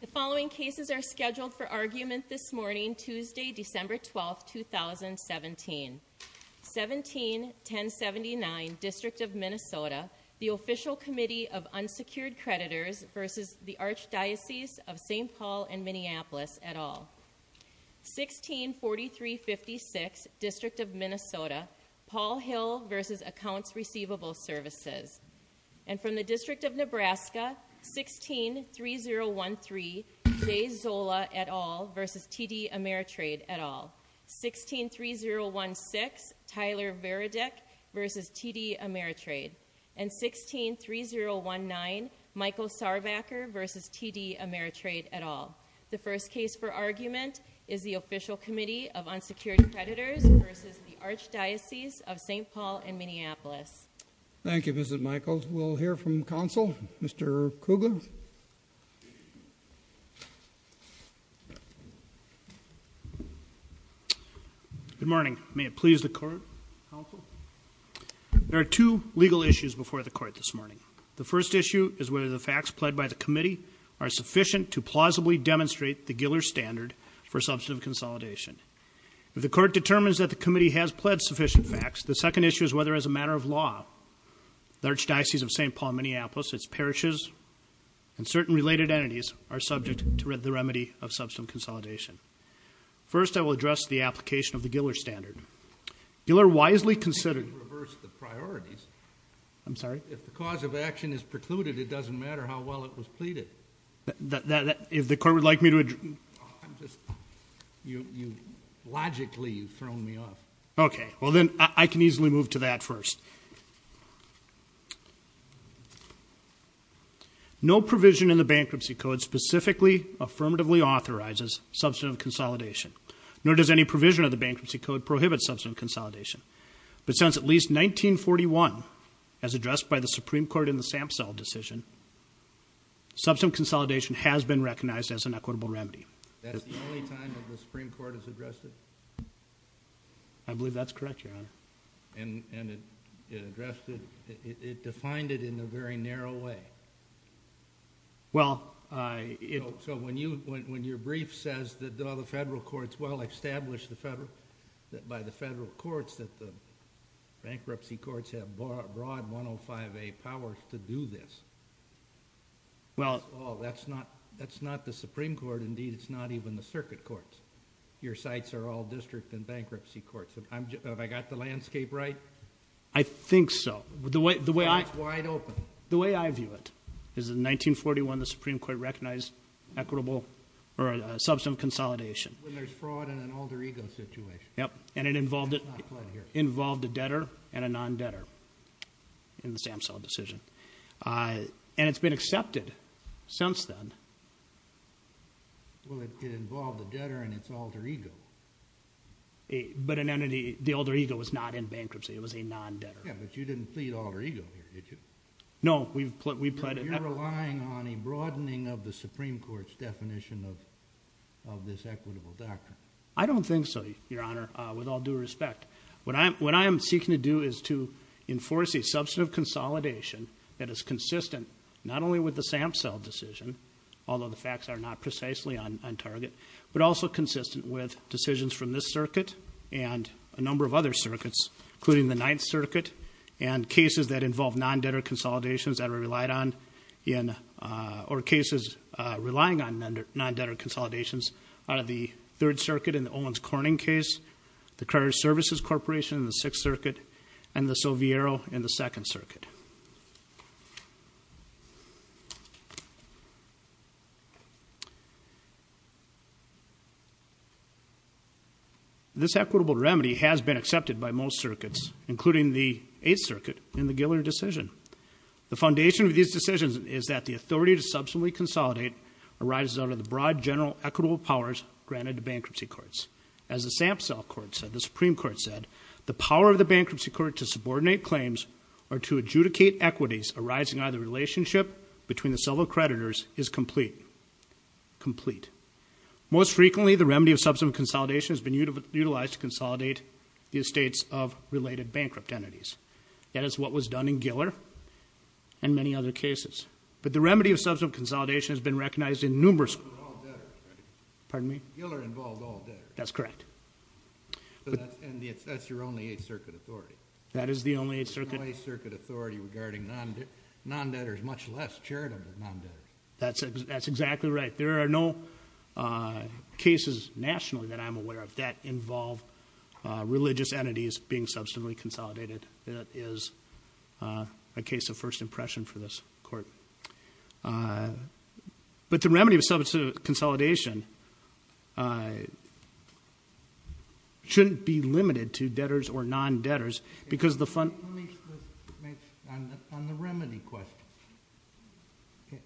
The following cases are scheduled for argument this morning, Tuesday, December 12, 2017. 17-1079, District of Minnesota, The Official Committee of Unsecured Creditors v. The Archdiocese of Saint Paul and Minneapolis, et al. 16-4356, District of Minnesota, Paul Hill v. Accounts Receivable Services And from the District of Nebraska, 16-3013, J. Zola, et al. v. T.D. Ameritrade, et al. 16-3016, Tyler Veradick v. T.D. Ameritrade And 16-3019, Michael Sarvacker v. T.D. Ameritrade, et al. The first case for argument is The Official Committee of Unsecured Creditors v. The Archdiocese of Saint Paul and Minneapolis. Thank you, Mr. Michaels. We'll hear from counsel, Mr. Kugler. Good morning. May it please the court, counsel? There are two legal issues before the court this morning. The first issue is whether the facts pledged by the committee are sufficient to plausibly demonstrate the Giller standard for substantive consolidation. If the court determines that the committee has pledged sufficient facts, the second issue is whether, as a matter of law, the Archdiocese of Saint Paul and Minneapolis, its parishes, and certain related entities are subject to the remedy of substantive consolidation. First, I will address the application of the Giller standard. Giller wisely considered I think you reversed the priorities. I'm sorry? If the cause of action is precluded, it doesn't matter how well it was pleaded. If the court would like me to address... Logically, you've thrown me off. Okay. Well, then, I can easily move to that first. No provision in the Bankruptcy Code specifically affirmatively authorizes substantive consolidation, nor does any provision of the Bankruptcy Code prohibit substantive consolidation. But since at least 1941, as addressed by the Supreme Court in the Samsell decision, substantive consolidation has been recognized as an equitable remedy. That's the only time that the Supreme Court has addressed it? I believe that's correct, Your Honor. And it defined it in a very narrow way. Well... So when your brief says that the federal courts well established by the federal courts that the bankruptcy courts have broad 105A powers to do this. Well... That's not the Supreme Court. Indeed, it's not even the circuit courts. Your sites are all district and bankruptcy courts. Have I got the landscape right? I think so. It's wide open. The way I view it is in 1941, the Supreme Court recognized equitable or substantive consolidation. When there's fraud in an alter ego situation. Yep. And it involved a debtor and a non-debtor in the Samsell decision. And it's been accepted since then. Well, it involved a debtor and it's an alter ego. But the alter ego was not in bankruptcy. It was a non-debtor. Yeah, but you didn't plead alter ego here, did you? No, we pled... You're relying on a broadening of the Supreme Court's definition of this equitable doctrine. I don't think so, Your Honor, with all due respect. What I am seeking to do is to enforce a substantive consolidation that is consistent not only with the Samsell decision, although the facts are not precisely on target, but also consistent with decisions from this circuit and a number of other circuits, including the Ninth Circuit and cases that involve non-debtor consolidations that are relied on or cases relying on non-debtor consolidations out of the Third Circuit in the Owens-Corning case, the Credit Services Corporation in the Sixth Circuit, and the Soviero in the Second Circuit. All right. This equitable remedy has been accepted by most circuits, including the Eighth Circuit in the Giller decision. The foundation of these decisions is that the authority to substantively consolidate arises out of the broad general equitable powers granted to bankruptcy courts. As the Samsell Court said, the Supreme Court said, the power of the bankruptcy court to subordinate claims or to adjudicate equities arising out of the relationship between the several creditors is complete. Most frequently, the remedy of substantive consolidation has been utilized to consolidate the estates of related bankrupt entities. That is what was done in Giller and many other cases. But the remedy of substantive consolidation has been recognized in numerous cases. Pardon me? Giller involved all debtors. That's correct. And that's your only Eighth Circuit authority. That is the only Eighth Circuit. The only Eighth Circuit authority regarding non-debtors, much less charitable non-debtors. That's exactly right. There are no cases nationally that I'm aware of that involve religious entities being substantively consolidated. That is a case of first impression for this court. But the remedy of substantive consolidation shouldn't be limited to debtors or non-debtors because the funds. On the remedy question,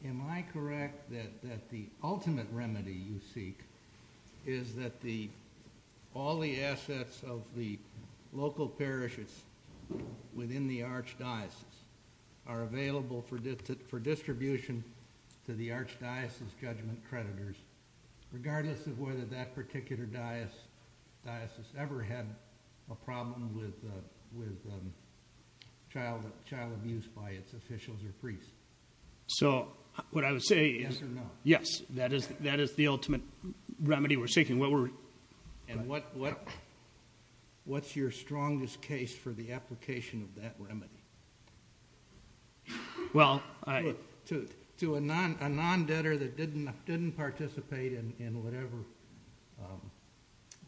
am I correct that the ultimate remedy you seek is that all the assets of the local parishes within the archdiocese are available for distribution to the archdiocese judgment creditors, regardless of whether that particular diocese ever had a problem with child abuse by its officials or priests? So what I would say is, yes, that is the ultimate remedy we're seeking. And what's your strongest case for the application of that remedy? To a non-debtor that didn't participate in whatever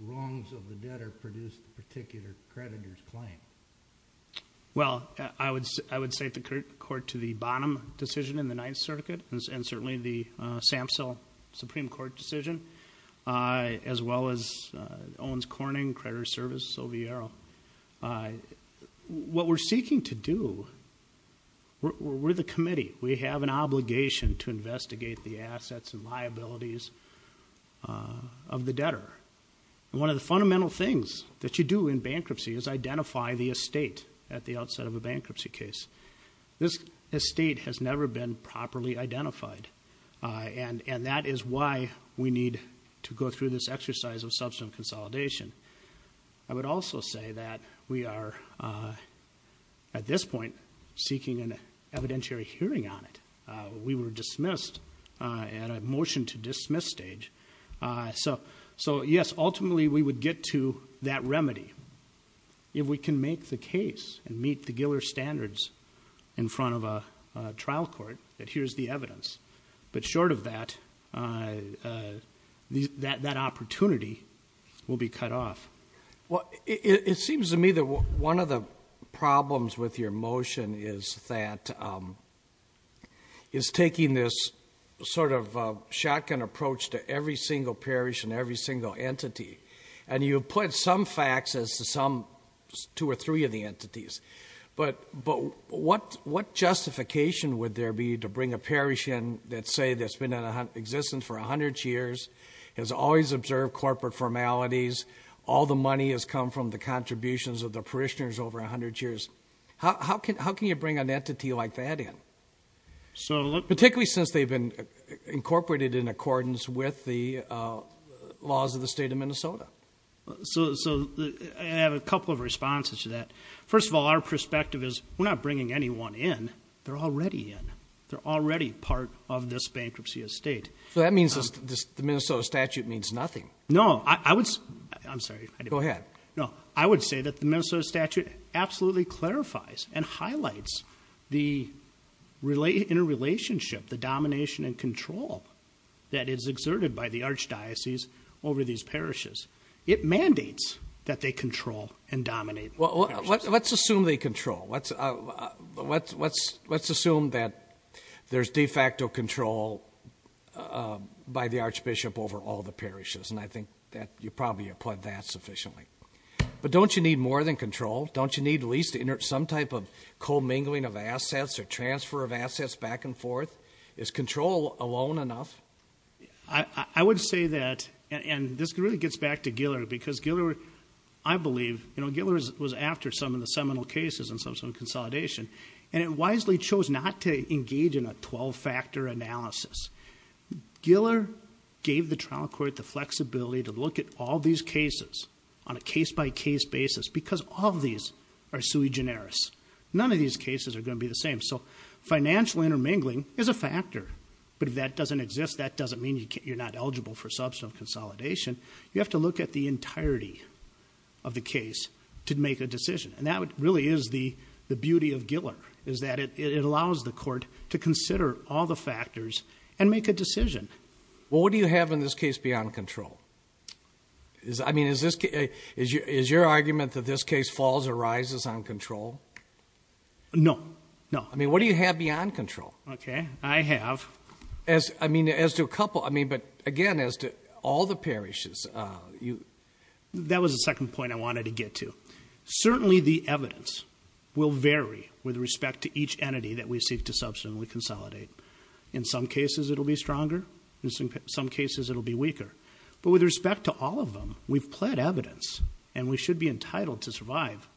wrongs of the debtor produced the particular creditor's claim. Well, I would say the court to the Bonham decision in the Ninth Circuit and certainly the SAMHSA Supreme Court decision, as well as Owens-Corning, Creditor Service, OVRO. What we're seeking to do, we're the committee. We have an obligation to investigate the assets and liabilities of the debtor. One of the fundamental things that you do in bankruptcy is identify the estate at the outset of a bankruptcy case. This estate has never been properly identified, and that is why we need to go through this exercise of substance consolidation. I would also say that we are, at this point, seeking an evidentiary hearing on it. We were dismissed at a motion-to-dismiss stage. So, yes, ultimately we would get to that remedy. If we can make the case and meet the Giller standards in front of a trial court, that here's the evidence. But short of that, that opportunity will be cut off. Well, it seems to me that one of the problems with your motion is that it's taking this sort of shotgun approach to every single parish and every single entity. And you have put some facts as to some two or three of the entities. But what justification would there be to bring a parish in that say that's been in existence for 100 years, has always observed corporate formalities, all the money has come from the contributions of the parishioners over 100 years? How can you bring an entity like that in, particularly since they've been incorporated in accordance with the laws of the state of Minnesota? So I have a couple of responses to that. First of all, our perspective is we're not bringing anyone in. They're already in. They're already part of this bankruptcy estate. So that means the Minnesota statute means nothing. No, I would say that the Minnesota statute absolutely clarifies and highlights the interrelationship, the domination and control that is exerted by the archdiocese over these parishes. It mandates that they control and dominate. Well, let's assume they control. Let's assume that there's de facto control by the archbishop over all the parishes, and I think that you probably applaud that sufficiently. But don't you need more than control? Don't you need at least some type of commingling of assets or transfer of assets back and forth? Is control alone enough? I would say that, and this really gets back to Giller, because Giller, I believe, you know, Giller was after some of the seminal cases and some of the consolidation, and it wisely chose not to engage in a 12-factor analysis. Giller gave the trial court the flexibility to look at all these cases on a case-by-case basis because all of these are sui generis. None of these cases are going to be the same. So financial intermingling is a factor. But if that doesn't exist, that doesn't mean you're not eligible for substantive consolidation. You have to look at the entirety of the case to make a decision, and that really is the beauty of Giller, is that it allows the court to consider all the factors and make a decision. Well, what do you have in this case beyond control? I mean, is your argument that this case falls or rises on control? No, no. I mean, what do you have beyond control? Okay, I have. I mean, as to a couple, I mean, but again, as to all the parishes. That was the second point I wanted to get to. Certainly the evidence will vary with respect to each entity that we seek to substantively consolidate. In some cases, it will be stronger. In some cases, it will be weaker. But with respect to all of them, we've pled evidence, and we should be entitled to survive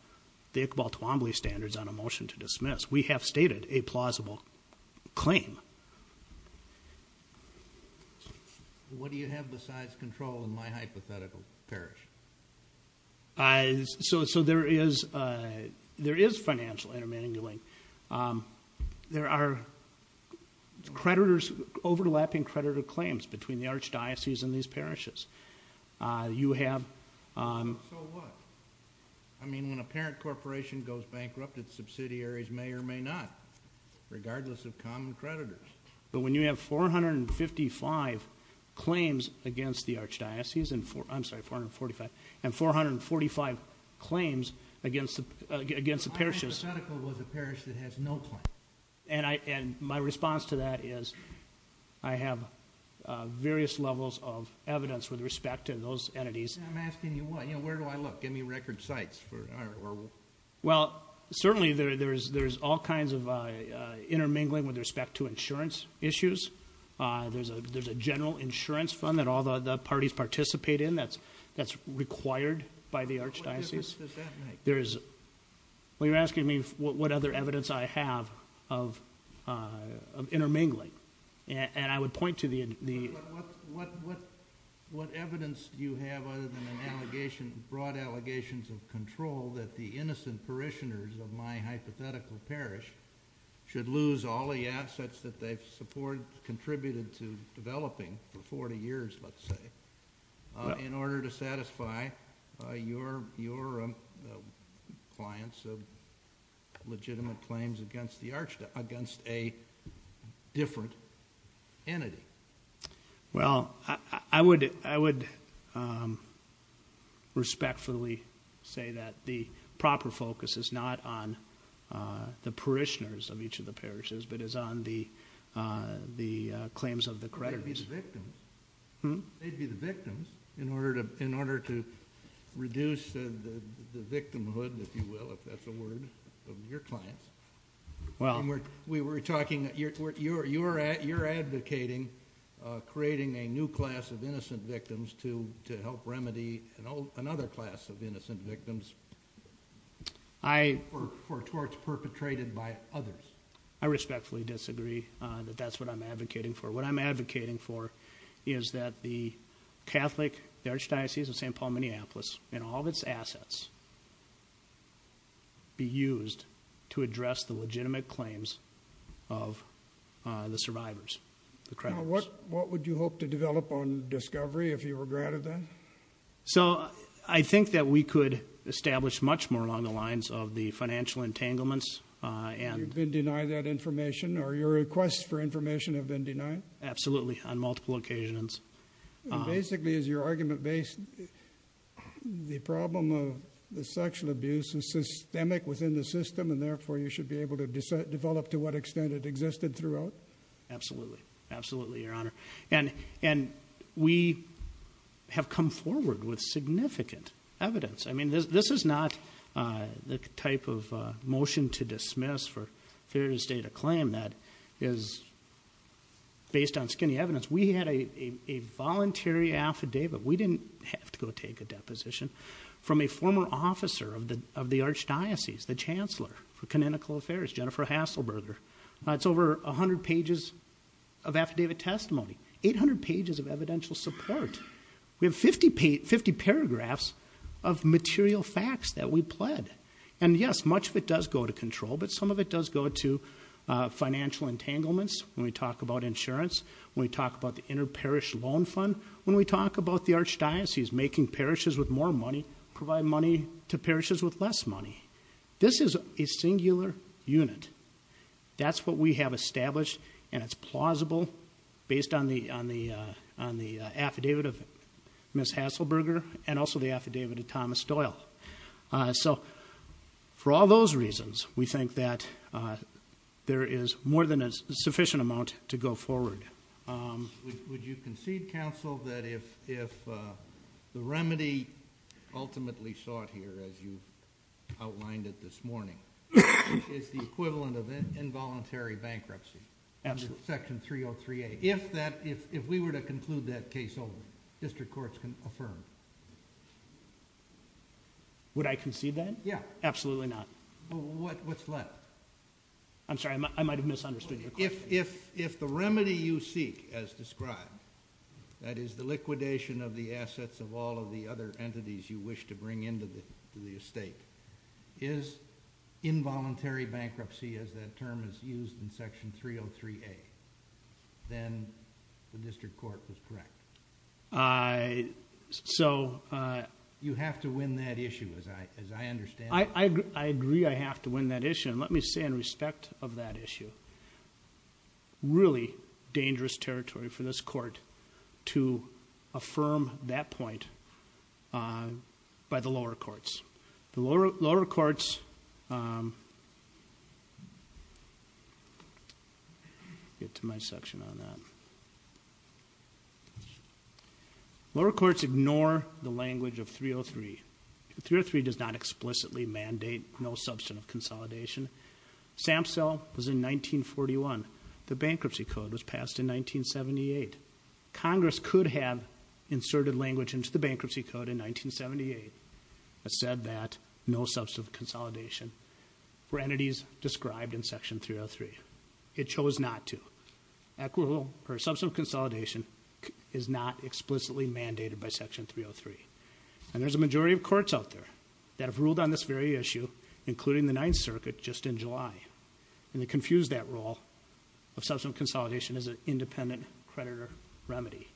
the Iqbal Toomble standards on a motion to dismiss. We have stated a plausible claim. What do you have besides control in my hypothetical parish? So there is financial intermingling. There are creditors, overlapping creditor claims between the archdiocese and these parishes. So what? I mean, when a parent corporation goes bankrupt, its subsidiaries may or may not, regardless of common creditors. But when you have 455 claims against the archdiocese, I'm sorry, 445, and 445 claims against the parishes. My hypothetical was a parish that has no claim. And my response to that is I have various levels of evidence with respect to those entities. I'm asking you what. Where do I look? Give me record sites. Well, certainly there's all kinds of intermingling with respect to insurance issues. There's a general insurance fund that all the parties participate in that's required by the archdiocese. What difference does that make? Well, you're asking me what other evidence I have of intermingling, and I would point to the What evidence do you have other than broad allegations of control that the innocent parishioners of my hypothetical parish should lose all the assets that they've contributed to developing for 40 years, let's say, in order to satisfy your clients of legitimate claims against a different entity? Well, I would respectfully say that the proper focus is not on the parishioners of each of the parishes, but is on the claims of the creditors. They'd be the victims in order to reduce the victimhood, if you will, if that's a word, of your clients. We were talking, you're advocating creating a new class of innocent victims to help remedy another class of innocent victims. For torts perpetrated by others. I respectfully disagree that that's what I'm advocating for. What I'm advocating for is that the Catholic Archdiocese of St. Paul, Minneapolis, and all of its assets be used to address the legitimate claims of the survivors, the creditors. Now, what would you hope to develop on discovery if you were granted that? So, I think that we could establish much more along the lines of the financial entanglements and You've been denied that information, or your requests for information have been denied? Absolutely, on multiple occasions. Basically, is your argument based, the problem of the sexual abuse is systemic within the system, and therefore you should be able to develop to what extent it existed throughout? Absolutely. Absolutely, Your Honor. And we have come forward with significant evidence. I mean, this is not the type of motion to dismiss for a fear to state a claim that is based on skinny evidence. We had a voluntary affidavit. We didn't have to go take a deposition from a former officer of the Archdiocese, the Chancellor for Canonical Affairs, Jennifer Hasselberger. That's over 100 pages of affidavit testimony. 800 pages of evidential support. We have 50 paragraphs of material facts that we pled. And yes, much of it does go to control, but some of it does go to financial entanglements when we talk about insurance, when we talk about the inter-parish loan fund, when we talk about the Archdiocese making parishes with more money provide money to parishes with less money. This is a singular unit. That's what we have established, and it's plausible based on the affidavit of Ms. Hasselberger and also the affidavit of Thomas Doyle. So for all those reasons, we think that there is more than a sufficient amount to go forward. Would you concede, counsel, that if the remedy ultimately sought here, as you outlined it this morning, is the equivalent of involuntary bankruptcy under Section 303A, if we were to conclude that case openly, district courts can affirm? Would I concede that? Yeah. Absolutely not. What's left? I'm sorry. I might have misunderstood your question. If the remedy you seek, as described, that is the liquidation of the assets of all of the other entities you wish to bring into the estate, is involuntary bankruptcy as that term is used in Section 303A, then the district court was correct. So you have to win that issue, as I understand it. I agree I have to win that issue, and let me say in respect of that issue, really dangerous territory for this court to affirm that point by the lower courts. The lower courts ignore the language of 303. 303 does not explicitly mandate no substantive consolidation. SAMHSA was in 1941. The Bankruptcy Code was passed in 1978. Congress could have inserted language into the Bankruptcy Code in 1978. It said that no substantive consolidation for entities described in Section 303. It chose not to. Equivalent substantive consolidation is not explicitly mandated by Section 303. And there's a majority of courts out there that have ruled on this very issue, including the Ninth Circuit, just in July. And they confused that rule of substantive consolidation as an independent creditor remedy.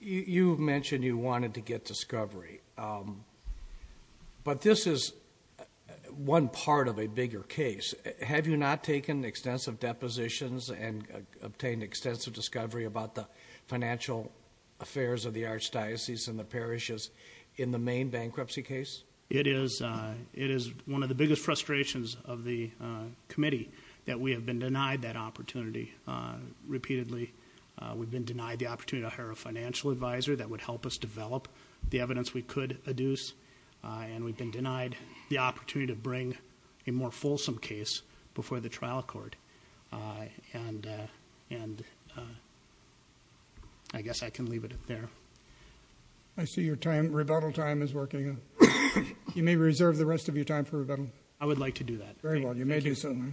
You mentioned you wanted to get discovery. But this is one part of a bigger case. Have you not taken extensive depositions and obtained extensive discovery about the financial affairs of the archdiocese and the parishes in the main bankruptcy case? It is one of the biggest frustrations of the committee that we have been denied that opportunity repeatedly. We've been denied the opportunity to hire a financial advisor that would help us develop the evidence we could adduce. And we've been denied the opportunity to bring a more fulsome case before the trial court. And I guess I can leave it there. I see your rebuttal time is working. You may reserve the rest of your time for rebuttal. I would like to do that. Very well. You may do so now.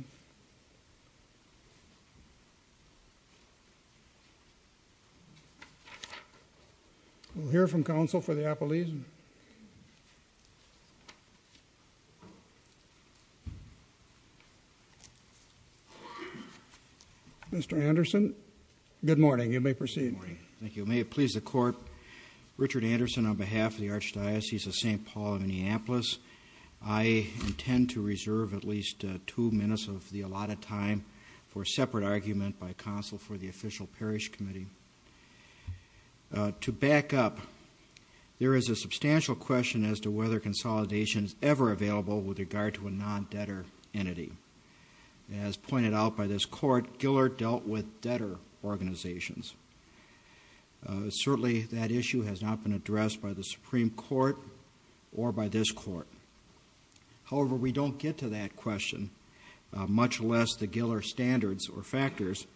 We'll hear from counsel for the appellees. Mr. Anderson, good morning. You may proceed. Good morning. Thank you. May it please the Court, Richard Anderson on behalf of the Archdiocese of St. Paul, Minneapolis, I intend to reserve at least two minutes of the allotted time for a separate argument by counsel for the official parish committee. To back up, there is a substantial question as to whether consolidation is ever available with regard to a non-debtor entity. As pointed out by this Court, Giller dealt with debtor organizations. Certainly, that issue has not been addressed by the Supreme Court or by this Court. However, we don't get to that question, much less the Giller standards or factors,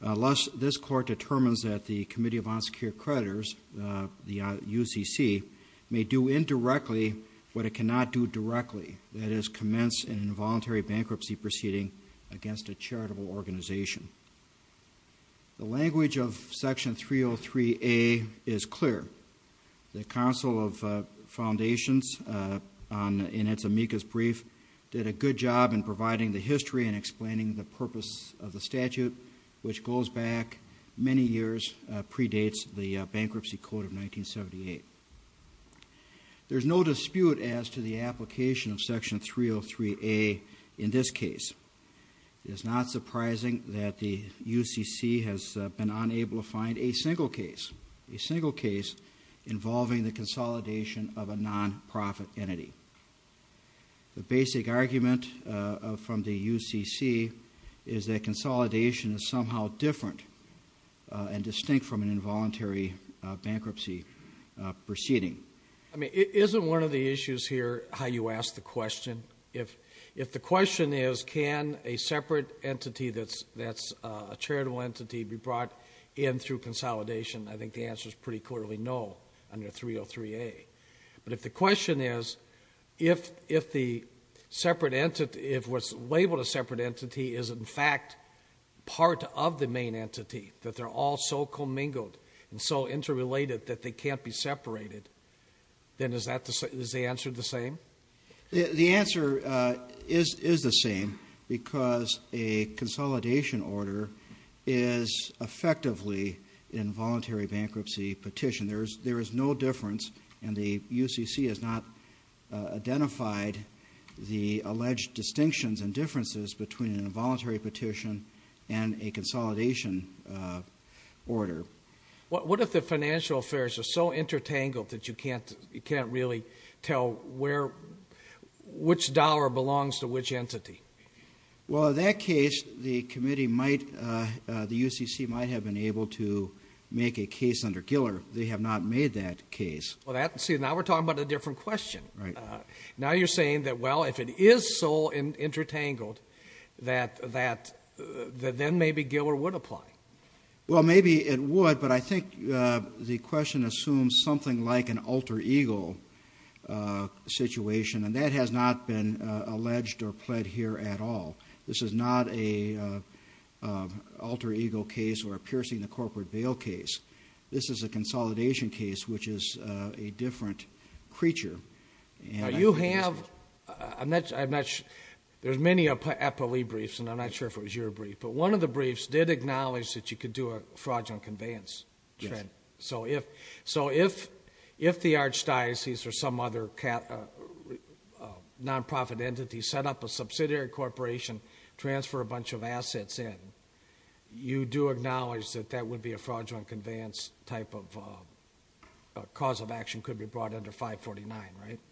unless this Court determines that the Committee of Unsecured Creditors, the UCC, may do indirectly what it cannot do directly, that is commence an involuntary bankruptcy proceeding against a charitable organization. The language of Section 303A is clear. The Council of Foundations, in its amicus brief, did a good job in providing the history and explaining the purpose of the statute, which goes back many years, predates the Bankruptcy Code of 1978. There's no dispute as to the application of Section 303A in this case. It is not surprising that the UCC has been unable to find a single case, a single case involving the consolidation of a non-profit entity. The basic argument from the UCC is that consolidation is somehow different and distinct from an involuntary bankruptcy proceeding. I mean, isn't one of the issues here how you ask the question? If the question is can a separate entity that's a charitable entity be brought in through consolidation, I think the answer is pretty clearly no under 303A. But if the question is if the separate entity, if what's labeled a separate entity is in fact part of the main entity, that they're all so commingled and so interrelated that they can't be separated, then is the answer the same? The answer is the same because a consolidation order is effectively an involuntary bankruptcy petition. There is no difference, and the UCC has not identified the alleged distinctions and differences between an involuntary petition and a consolidation order. What if the financial affairs are so intertangled that you can't really tell which dollar belongs to which entity? Well, in that case, the committee might, the UCC might have been able to make a case under Giller. They have not made that case. Well, see, now we're talking about a different question. Right. Now you're saying that, well, if it is so intertangled that then maybe Giller would apply. Well, maybe it would, but I think the question assumes something like an alter ego situation, and that has not been alleged or pled here at all. This is not an alter ego case or a piercing the corporate veil case. This is a consolidation case, which is a different creature. Now you have, I'm not sure, there's many APOE briefs, and I'm not sure if it was your brief, but one of the briefs did acknowledge that you could do a fraudulent conveyance trend. Yes. So if the archdiocese or some other nonprofit entity set up a subsidiary corporation, transfer a bunch of assets in, you do acknowledge that that would be a fraudulent conveyance type of cause of action, could be brought under 549,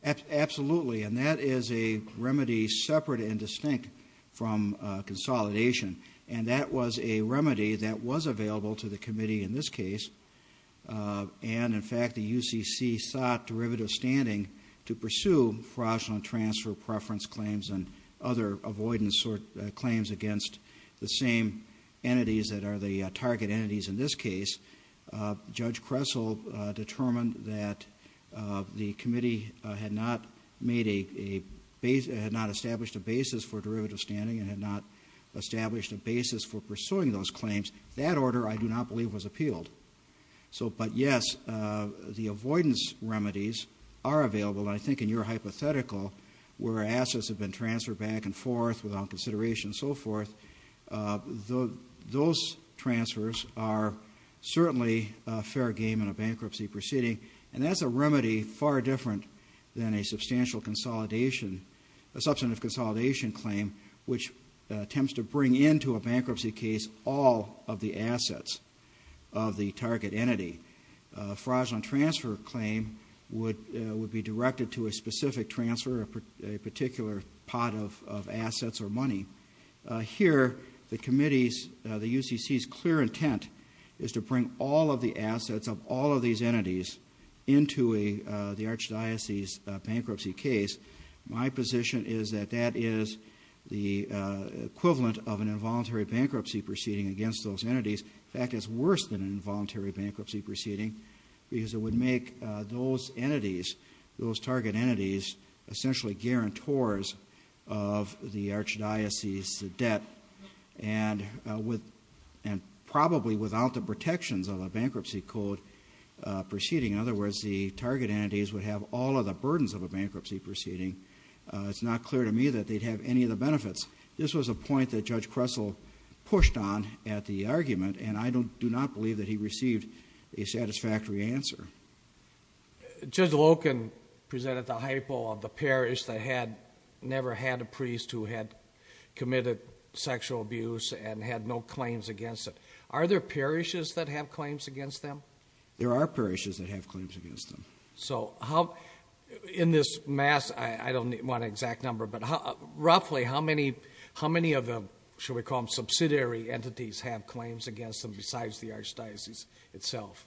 right? Absolutely, and that is a remedy separate and distinct from consolidation, and that was a remedy that was available to the committee in this case, and in fact the UCC sought derivative standing to pursue fraudulent transfer preference claims and other avoidance claims against the same entities that are the target entities in this case. Judge Kressel determined that the committee had not established a basis for derivative standing and had not established a basis for pursuing those claims. That order, I do not believe, was appealed. But yes, the avoidance remedies are available, and I think in your hypothetical, where assets have been transferred back and forth without consideration and so forth, those transfers are certainly a fair game in a bankruptcy proceeding, and that's a remedy far different than a substantial consolidation, a substantive consolidation claim which attempts to bring into a bankruptcy case all of the assets of the target entity. A fraudulent transfer claim would be directed to a specific transfer of a particular pot of assets or money. Here, the committee's, the UCC's, clear intent is to bring all of the assets of all of these entities into the Archdiocese's bankruptcy case. My position is that that is the equivalent of an involuntary bankruptcy proceeding against those entities. In fact, it's worse than an involuntary bankruptcy proceeding because it would make those entities, those target entities, essentially guarantors of the Archdiocese's debt, and probably without the protections of a bankruptcy code proceeding. In other words, the target entities would have all of the burdens of a bankruptcy proceeding. It's not clear to me that they'd have any of the benefits. This was a point that Judge Kressel pushed on at the argument, and I do not believe that he received a satisfactory answer. Judge Loken presented the hypo of the parish that had never had a priest who had committed sexual abuse and had no claims against it. Are there parishes that have claims against them? There are parishes that have claims against them. So how, in this mass, I don't want an exact number, but roughly how many of the, shall we call them subsidiary entities, have claims against them besides the Archdiocese itself?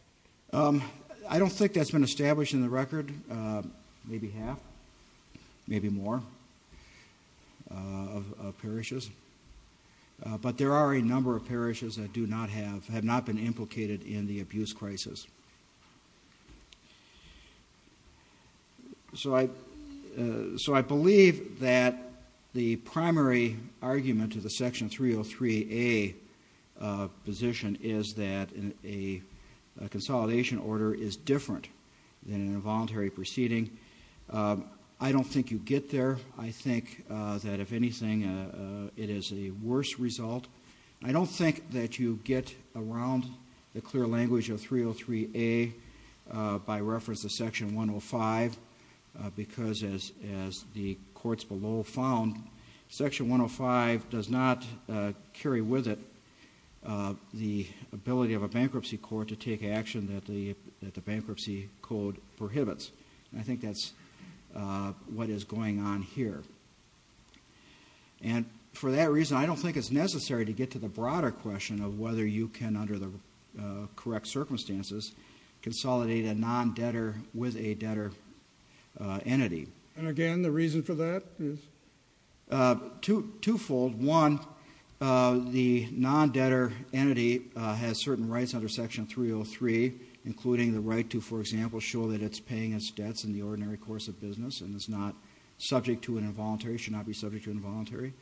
I don't think that's been established in the record. Maybe half, maybe more of parishes. But there are a number of parishes that do not have, have not been implicated in the abuse crisis. So I believe that the primary argument to the Section 303A position is that a consolidation order is different than an involuntary proceeding. I don't think you get there. I think that, if anything, it is a worse result. I don't think that you get around the clear language of 303A by reference to Section 105 because, as the courts below found, Section 105 does not carry with it the ability of a bankruptcy court to take action that the bankruptcy code prohibits. I think that's what is going on here. And for that reason, I don't think it's necessary to get to the broader question of whether you can, under the correct circumstances, consolidate a non-debtor with a debtor entity. And again, the reason for that is? Twofold. One, the non-debtor entity has certain rights under Section 303, including the right to, for example, show that it's paying its debts in the ordinary course of business and it's not subject to an involuntary, should not be subject to involuntary,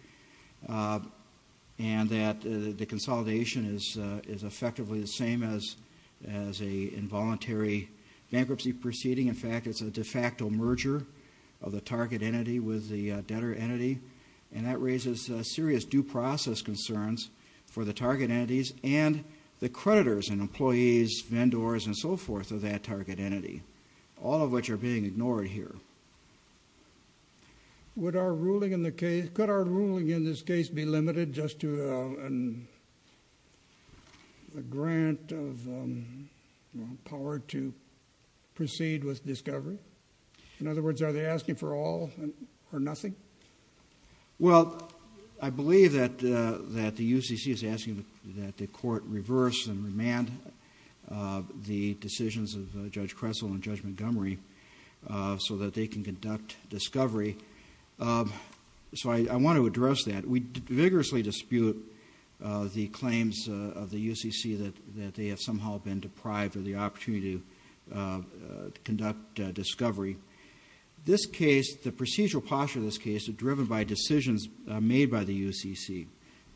and that the consolidation is effectively the same as an involuntary bankruptcy proceeding. In fact, it's a de facto merger of the target entity with the debtor entity, and that raises serious due process concerns for the target entities and the creditors and employees, vendors, and so forth of that target entity, all of which are being ignored here. Could our ruling in this case be limited just to a grant of power to proceed with discovery? In other words, are they asking for all or nothing? Well, I believe that the UCC is asking that the court reverse and remand the decisions of Judge Kressel and Judge Montgomery so that they can conduct discovery. So I want to address that. We vigorously dispute the claims of the UCC that they have somehow been deprived of the opportunity to conduct discovery. This case, the procedural posture of this case is driven by decisions made by the UCC.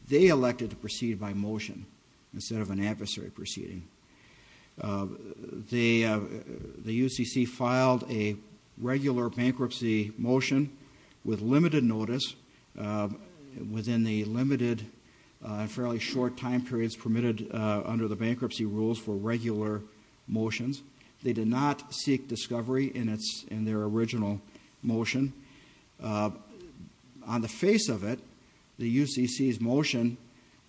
They elected to proceed by motion instead of an adversary proceeding. The UCC filed a regular bankruptcy motion with limited notice within the limited, fairly short time periods permitted under the bankruptcy rules for regular motions. They did not seek discovery in their original motion. On the face of it, the UCC's motion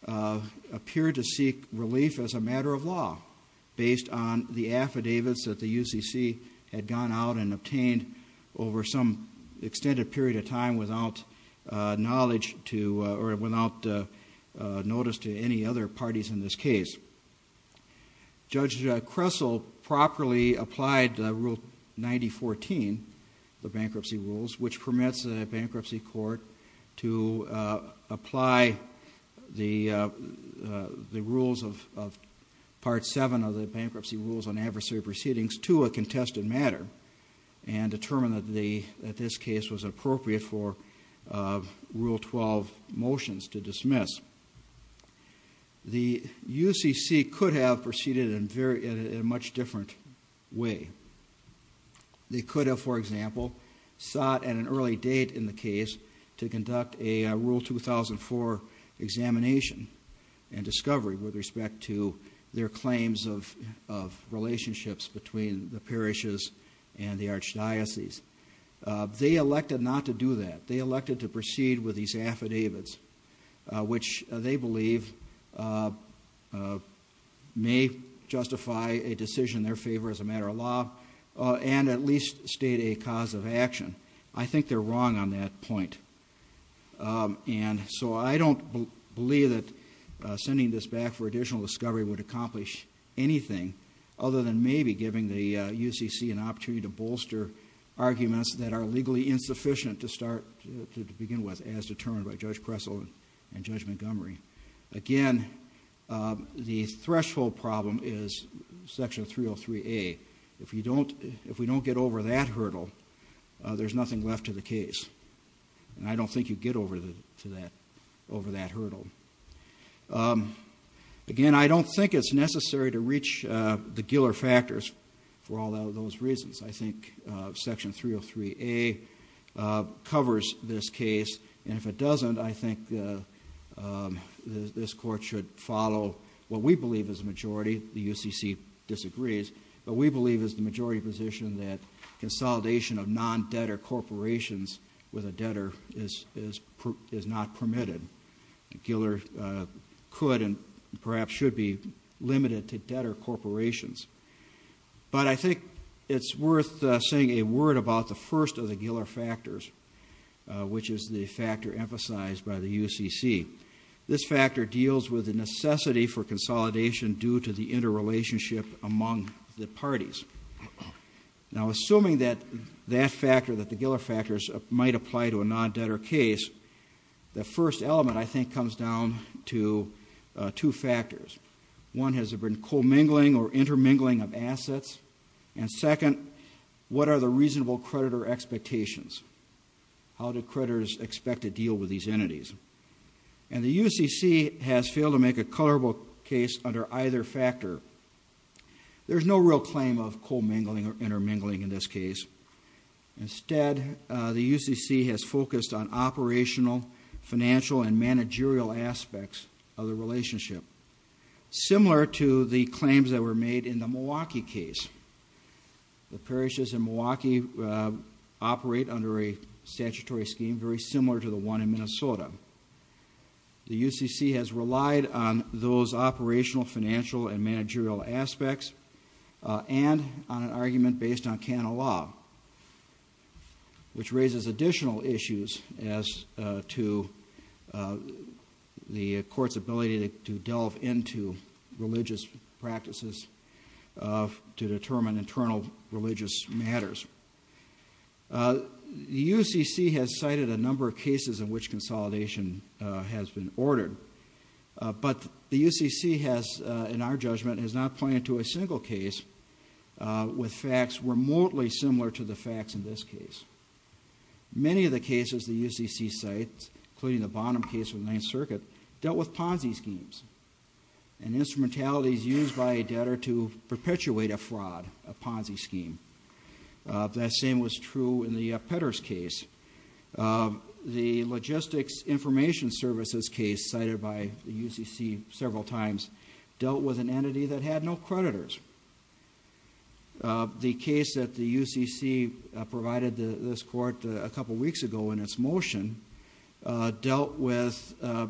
appeared to seek relief as a matter of law based on the affidavits that the UCC had gone out and obtained over some extended period of time without notice to any other parties in this case. Judge Kressel properly applied Rule 9014, the bankruptcy rules, which permits a bankruptcy court to apply the rules of Part 7 of the Bankruptcy Rules on Adversary Proceedings to a contested matter and determine that this case was appropriate for Rule 12 motions to dismiss. The UCC could have proceeded in a much different way. They could have, for example, sought at an early date in the case to conduct a Rule 2004 examination and discovery with respect to their claims of relationships between the parishes and the archdiocese. They elected not to do that. They elected to proceed with these affidavits, which they believe may justify a decision in their favor as a matter of law and at least state a cause of action. I think they're wrong on that point. And so I don't believe that sending this back for additional discovery would accomplish anything other than maybe giving the UCC an opportunity to bolster arguments that are legally insufficient to begin with as determined by Judge Kressel and Judge Montgomery. Again, the threshold problem is Section 303A. If we don't get over that hurdle, there's nothing left to the case. And I don't think you get over that hurdle. Again, I don't think it's necessary to reach the Giller factors for all of those reasons. I think Section 303A covers this case. And if it doesn't, I think this Court should follow what we believe is the majority. The UCC disagrees. But we believe it's the majority position that consolidation of non-debtor corporations with a debtor is not permitted. Giller could and perhaps should be limited to debtor corporations. But I think it's worth saying a word about the first of the Giller factors, which is the factor emphasized by the UCC. This factor deals with the necessity for consolidation due to the interrelationship among the parties. Now, assuming that that factor, that the Giller factors, might apply to a non-debtor case, the first element, I think, comes down to two factors. One, has there been co-mingling or intermingling of assets? And second, what are the reasonable creditor expectations? How do creditors expect to deal with these entities? And the UCC has failed to make a colorable case under either factor. There's no real claim of co-mingling or intermingling in this case. Instead, the UCC has focused on operational, financial, and managerial aspects of the relationship, similar to the claims that were made in the Milwaukee case. The parishes in Milwaukee operate under a statutory scheme very similar to the one in Minnesota. The UCC has relied on those operational, financial, and managerial aspects, and on an argument based on canon law, which raises additional issues as to the court's ability to delve into religious practices to determine internal religious matters. The UCC has cited a number of cases in which consolidation has been ordered, but the UCC has, in our judgment, has not pointed to a single case with facts remotely similar to the facts in this case. Many of the cases the UCC cites, including the bottom case with Ninth Circuit, dealt with Ponzi schemes and instrumentalities used by a debtor to perpetuate a fraud, a Ponzi scheme. That same was true in the Petters case. The Logistics Information Services case cited by the UCC several times dealt with an entity that had no creditors. The case that the UCC provided this court a couple weeks ago in its motion dealt with a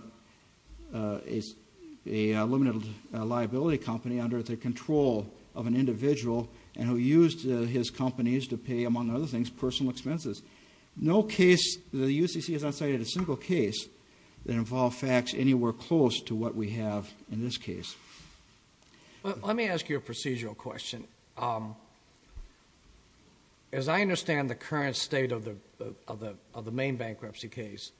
limited liability company under the control of an individual and who used his companies to pay, among other things, personal expenses. The UCC has not cited a single case that involved facts anywhere close to what we have in this case. Let me ask you a procedural question. As I understand the current state of the main bankruptcy case,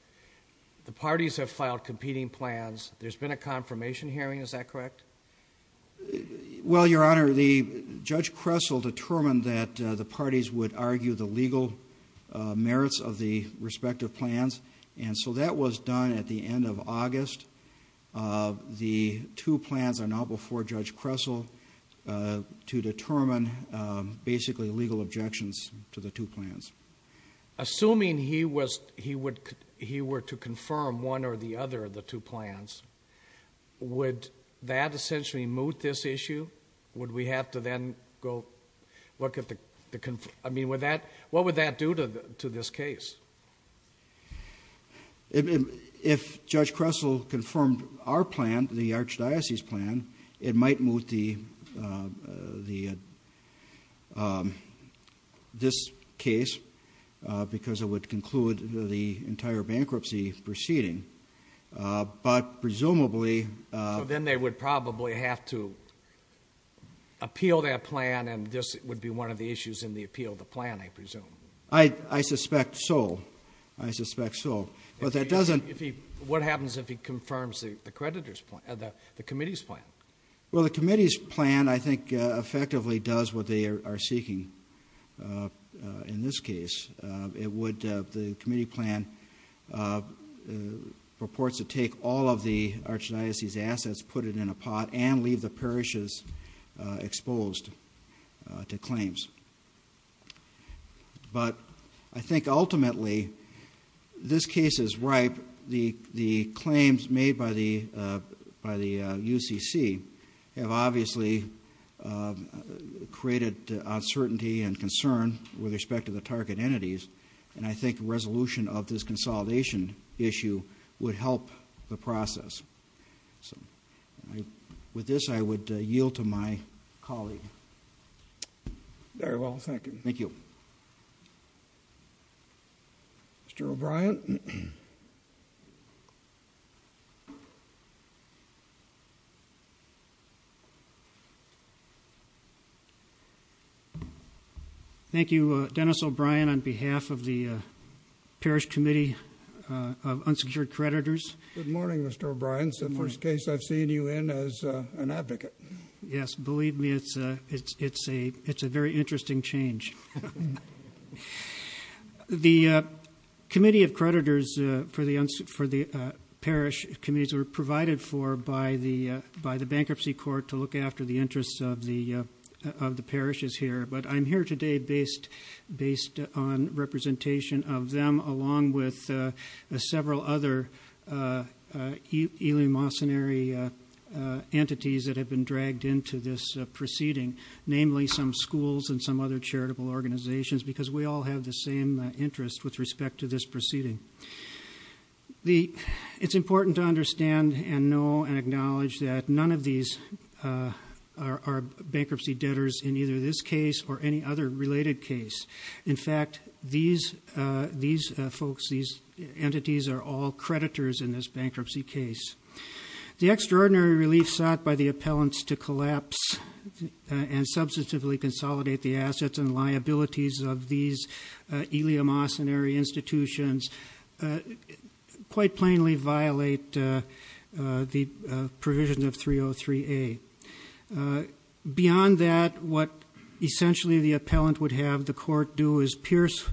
the parties have filed competing plans. There's been a confirmation hearing. Is that correct? Well, Your Honor, Judge Kressel determined that the parties would argue the legal merits of the respective plans, and so that was done at the end of August. The two plans are now before Judge Kressel to determine basically legal objections to the two plans. Assuming he were to confirm one or the other of the two plans, would that essentially moot this issue? Would we have to then go look at the... I mean, what would that do to this case? If Judge Kressel confirmed our plan, the Archdiocese plan, it might moot this case because it would conclude the entire bankruptcy proceeding, but presumably... So then they would probably have to appeal that plan, and this would be one of the issues in the appeal of the plan, I presume. I suspect so. I suspect so. But that doesn't... What happens if he confirms the committee's plan? Well, the committee's plan, I think, effectively does what they are seeking in this case. The committee plan purports to take all of the Archdiocese's assets, put it in a pot, and leave the parishes exposed to claims. But I think ultimately this case is ripe. The claims made by the UCC have obviously created uncertainty and concern with respect to the target entities, and I think resolution of this consolidation issue would help the process. With this, I would yield to my colleague. Very well. Thank you. Mr. O'Brien? Mr. O'Brien? Thank you, Dennis O'Brien, on behalf of the Parish Committee of Unsecured Creditors. Good morning, Mr. O'Brien. It's the first case I've seen you in as an advocate. Yes. Believe me, it's a very interesting change. The Committee of Creditors for the parish committees were provided for by the bankruptcy court to look after the interests of the parishes here. But I'm here today based on representation of them, along with several other eliminationary entities that have been dragged into this proceeding, namely some schools and some other charitable organizations, because we all have the same interest with respect to this proceeding. It's important to understand and know and acknowledge that none of these are bankruptcy debtors in either this case or any other related case. In fact, these folks, these entities, are all creditors in this bankruptcy case. The extraordinary relief sought by the appellants to collapse and substantively consolidate the assets and liabilities of these eliminationary institutions quite plainly violate the provision of 303A. Beyond that, what essentially the appellant would have the court do is pierce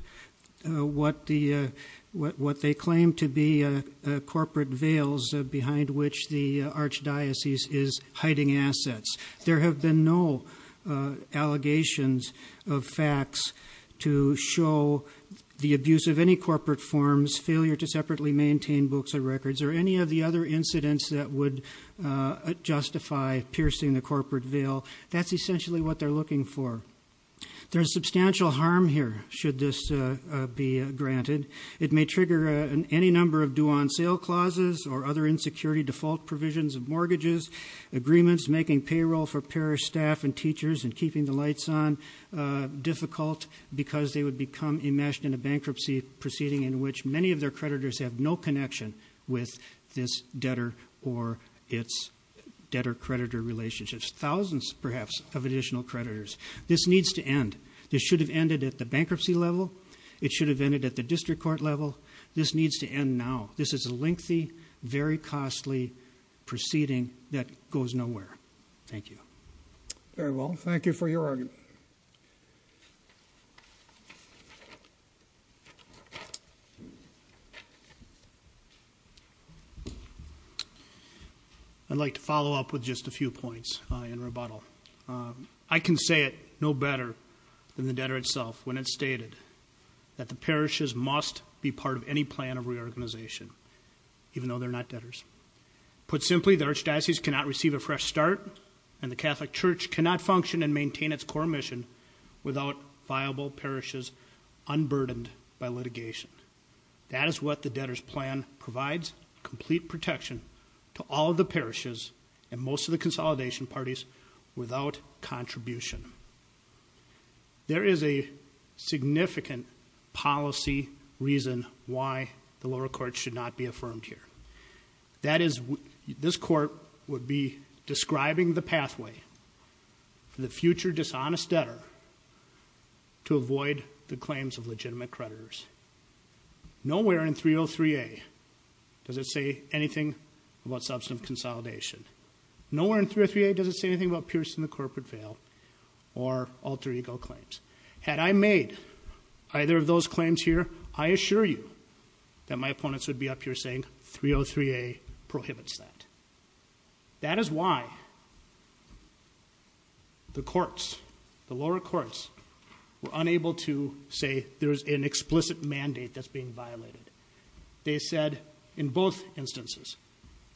what they claim to be corporate veils behind which the archdiocese is hiding assets. There have been no allegations of facts to show the abuse of any corporate forms, failure to separately maintain books or records, or any of the other incidents that would justify piercing the corporate veil. That's essentially what they're looking for. There's substantial harm here, should this be granted. It may trigger any number of due-on-sale clauses or other insecurity default provisions of mortgages, agreements making payroll for parish staff and teachers and keeping the lights on difficult because they would become enmeshed in a bankruptcy proceeding in which many of their creditors have no connection with this debtor or its debtor-creditor relationships, thousands, perhaps, of additional creditors. This needs to end. This should have ended at the bankruptcy level. It should have ended at the district court level. This needs to end now. This is a lengthy, very costly proceeding that goes nowhere. Thank you. Very well. Thank you for your argument. I'd like to follow up with just a few points in rebuttal. I can say it no better than the debtor itself when it's stated that the parishes must be part of any plan of reorganization, even though they're not debtors. Put simply, the archdiocese cannot receive a fresh start, and the Catholic Church cannot function and maintain its core mission without viable parishes unburdened by litigation. That is what the debtors' plan provides, complete protection to all of the parishes and most of the consolidation parties without contribution. There is a significant policy reason why the lower courts should not be affirmed here. That is, this court would be describing the pathway for the future dishonest debtor to avoid the claims of legitimate creditors. Nowhere in 303A does it say anything about substantive consolidation. Nowhere in 303A does it say anything about piercing the corporate veil or alter ego claims. Had I made either of those claims here, I assure you that my opponents would be up here saying 303A prohibits that. That is why the courts, the lower courts, were unable to say there is an explicit mandate that's being violated. They said in both instances,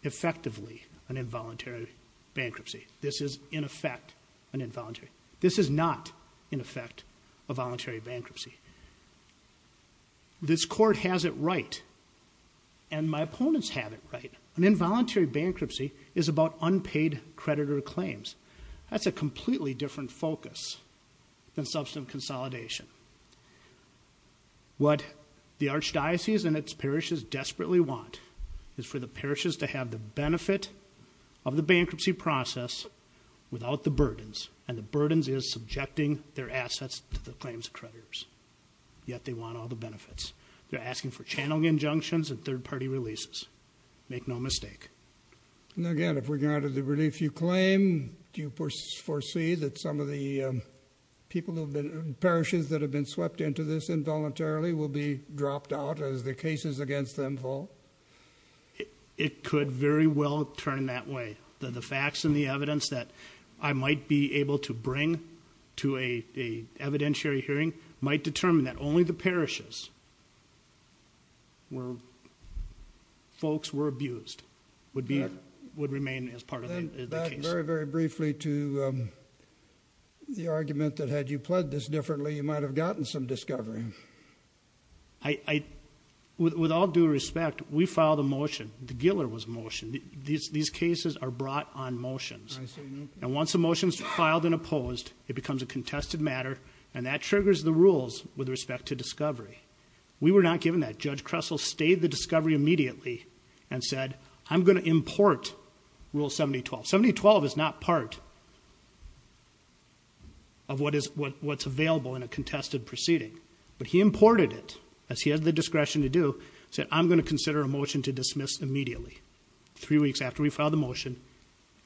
effectively, an involuntary bankruptcy. This is, in effect, an involuntary. This is not, in effect, a voluntary bankruptcy. This court has it right, and my opponents have it right. An involuntary bankruptcy is about unpaid creditor claims. That's a completely different focus than substantive consolidation. What the archdiocese and its parishes desperately want is for the parishes to have the benefit of the bankruptcy process without the burdens, and the burdens is subjecting their assets to the claims of creditors. Yet they want all the benefits. They're asking for channeling injunctions and third-party releases. Make no mistake. And again, with regard to the relief you claim, do you foresee that some of the parishes that have been swept into this involuntarily will be dropped out as the cases against them fall? It could very well turn that way. The facts and the evidence that I might be able to bring to an evidentiary hearing might determine that only the parishes where folks were abused would remain as part of the case. Back very, very briefly to the argument that had you pledged this differently, you might have gotten some discovery. With all due respect, we filed a motion. The Giller was motioned. These cases are brought on motions. And once a motion is filed and opposed, it becomes a contested matter, and that triggers the rules with respect to discovery. We were not given that. Judge Kressel stayed the discovery immediately and said, I'm going to import Rule 7012. 7012 is not part of what's available in a contested proceeding. But he imported it, as he had the discretion to do, said, I'm going to consider a motion to dismiss immediately. Three weeks after we filed the motion,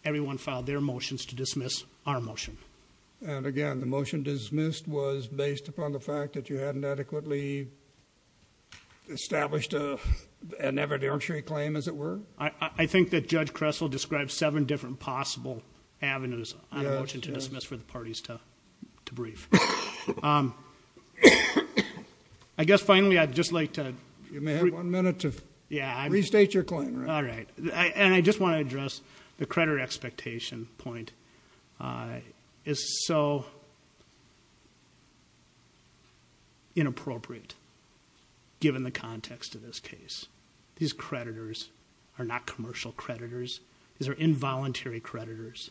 everyone filed their motions to dismiss our motion. And again, the motion dismissed was based upon the fact that you hadn't adequately established an evidentiary claim, as it were? I think that Judge Kressel described seven different possible avenues on a motion to dismiss for the parties to brief. I guess, finally, I'd just like to- You may have one minute to restate your claim. All right. And I just want to address the credit expectation point. It's so inappropriate, given the context of this case. These creditors are not commercial creditors. These are involuntary creditors.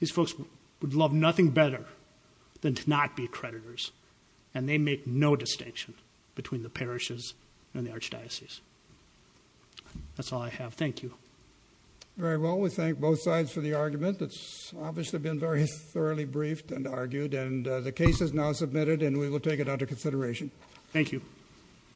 These folks would love nothing better than to not be creditors. And they make no distinction between the parishes and the archdiocese. That's all I have. Thank you. Very well. We thank both sides for the argument. It's obviously been very thoroughly briefed and argued. And the case is now submitted, and we will take it under consideration. Thank you.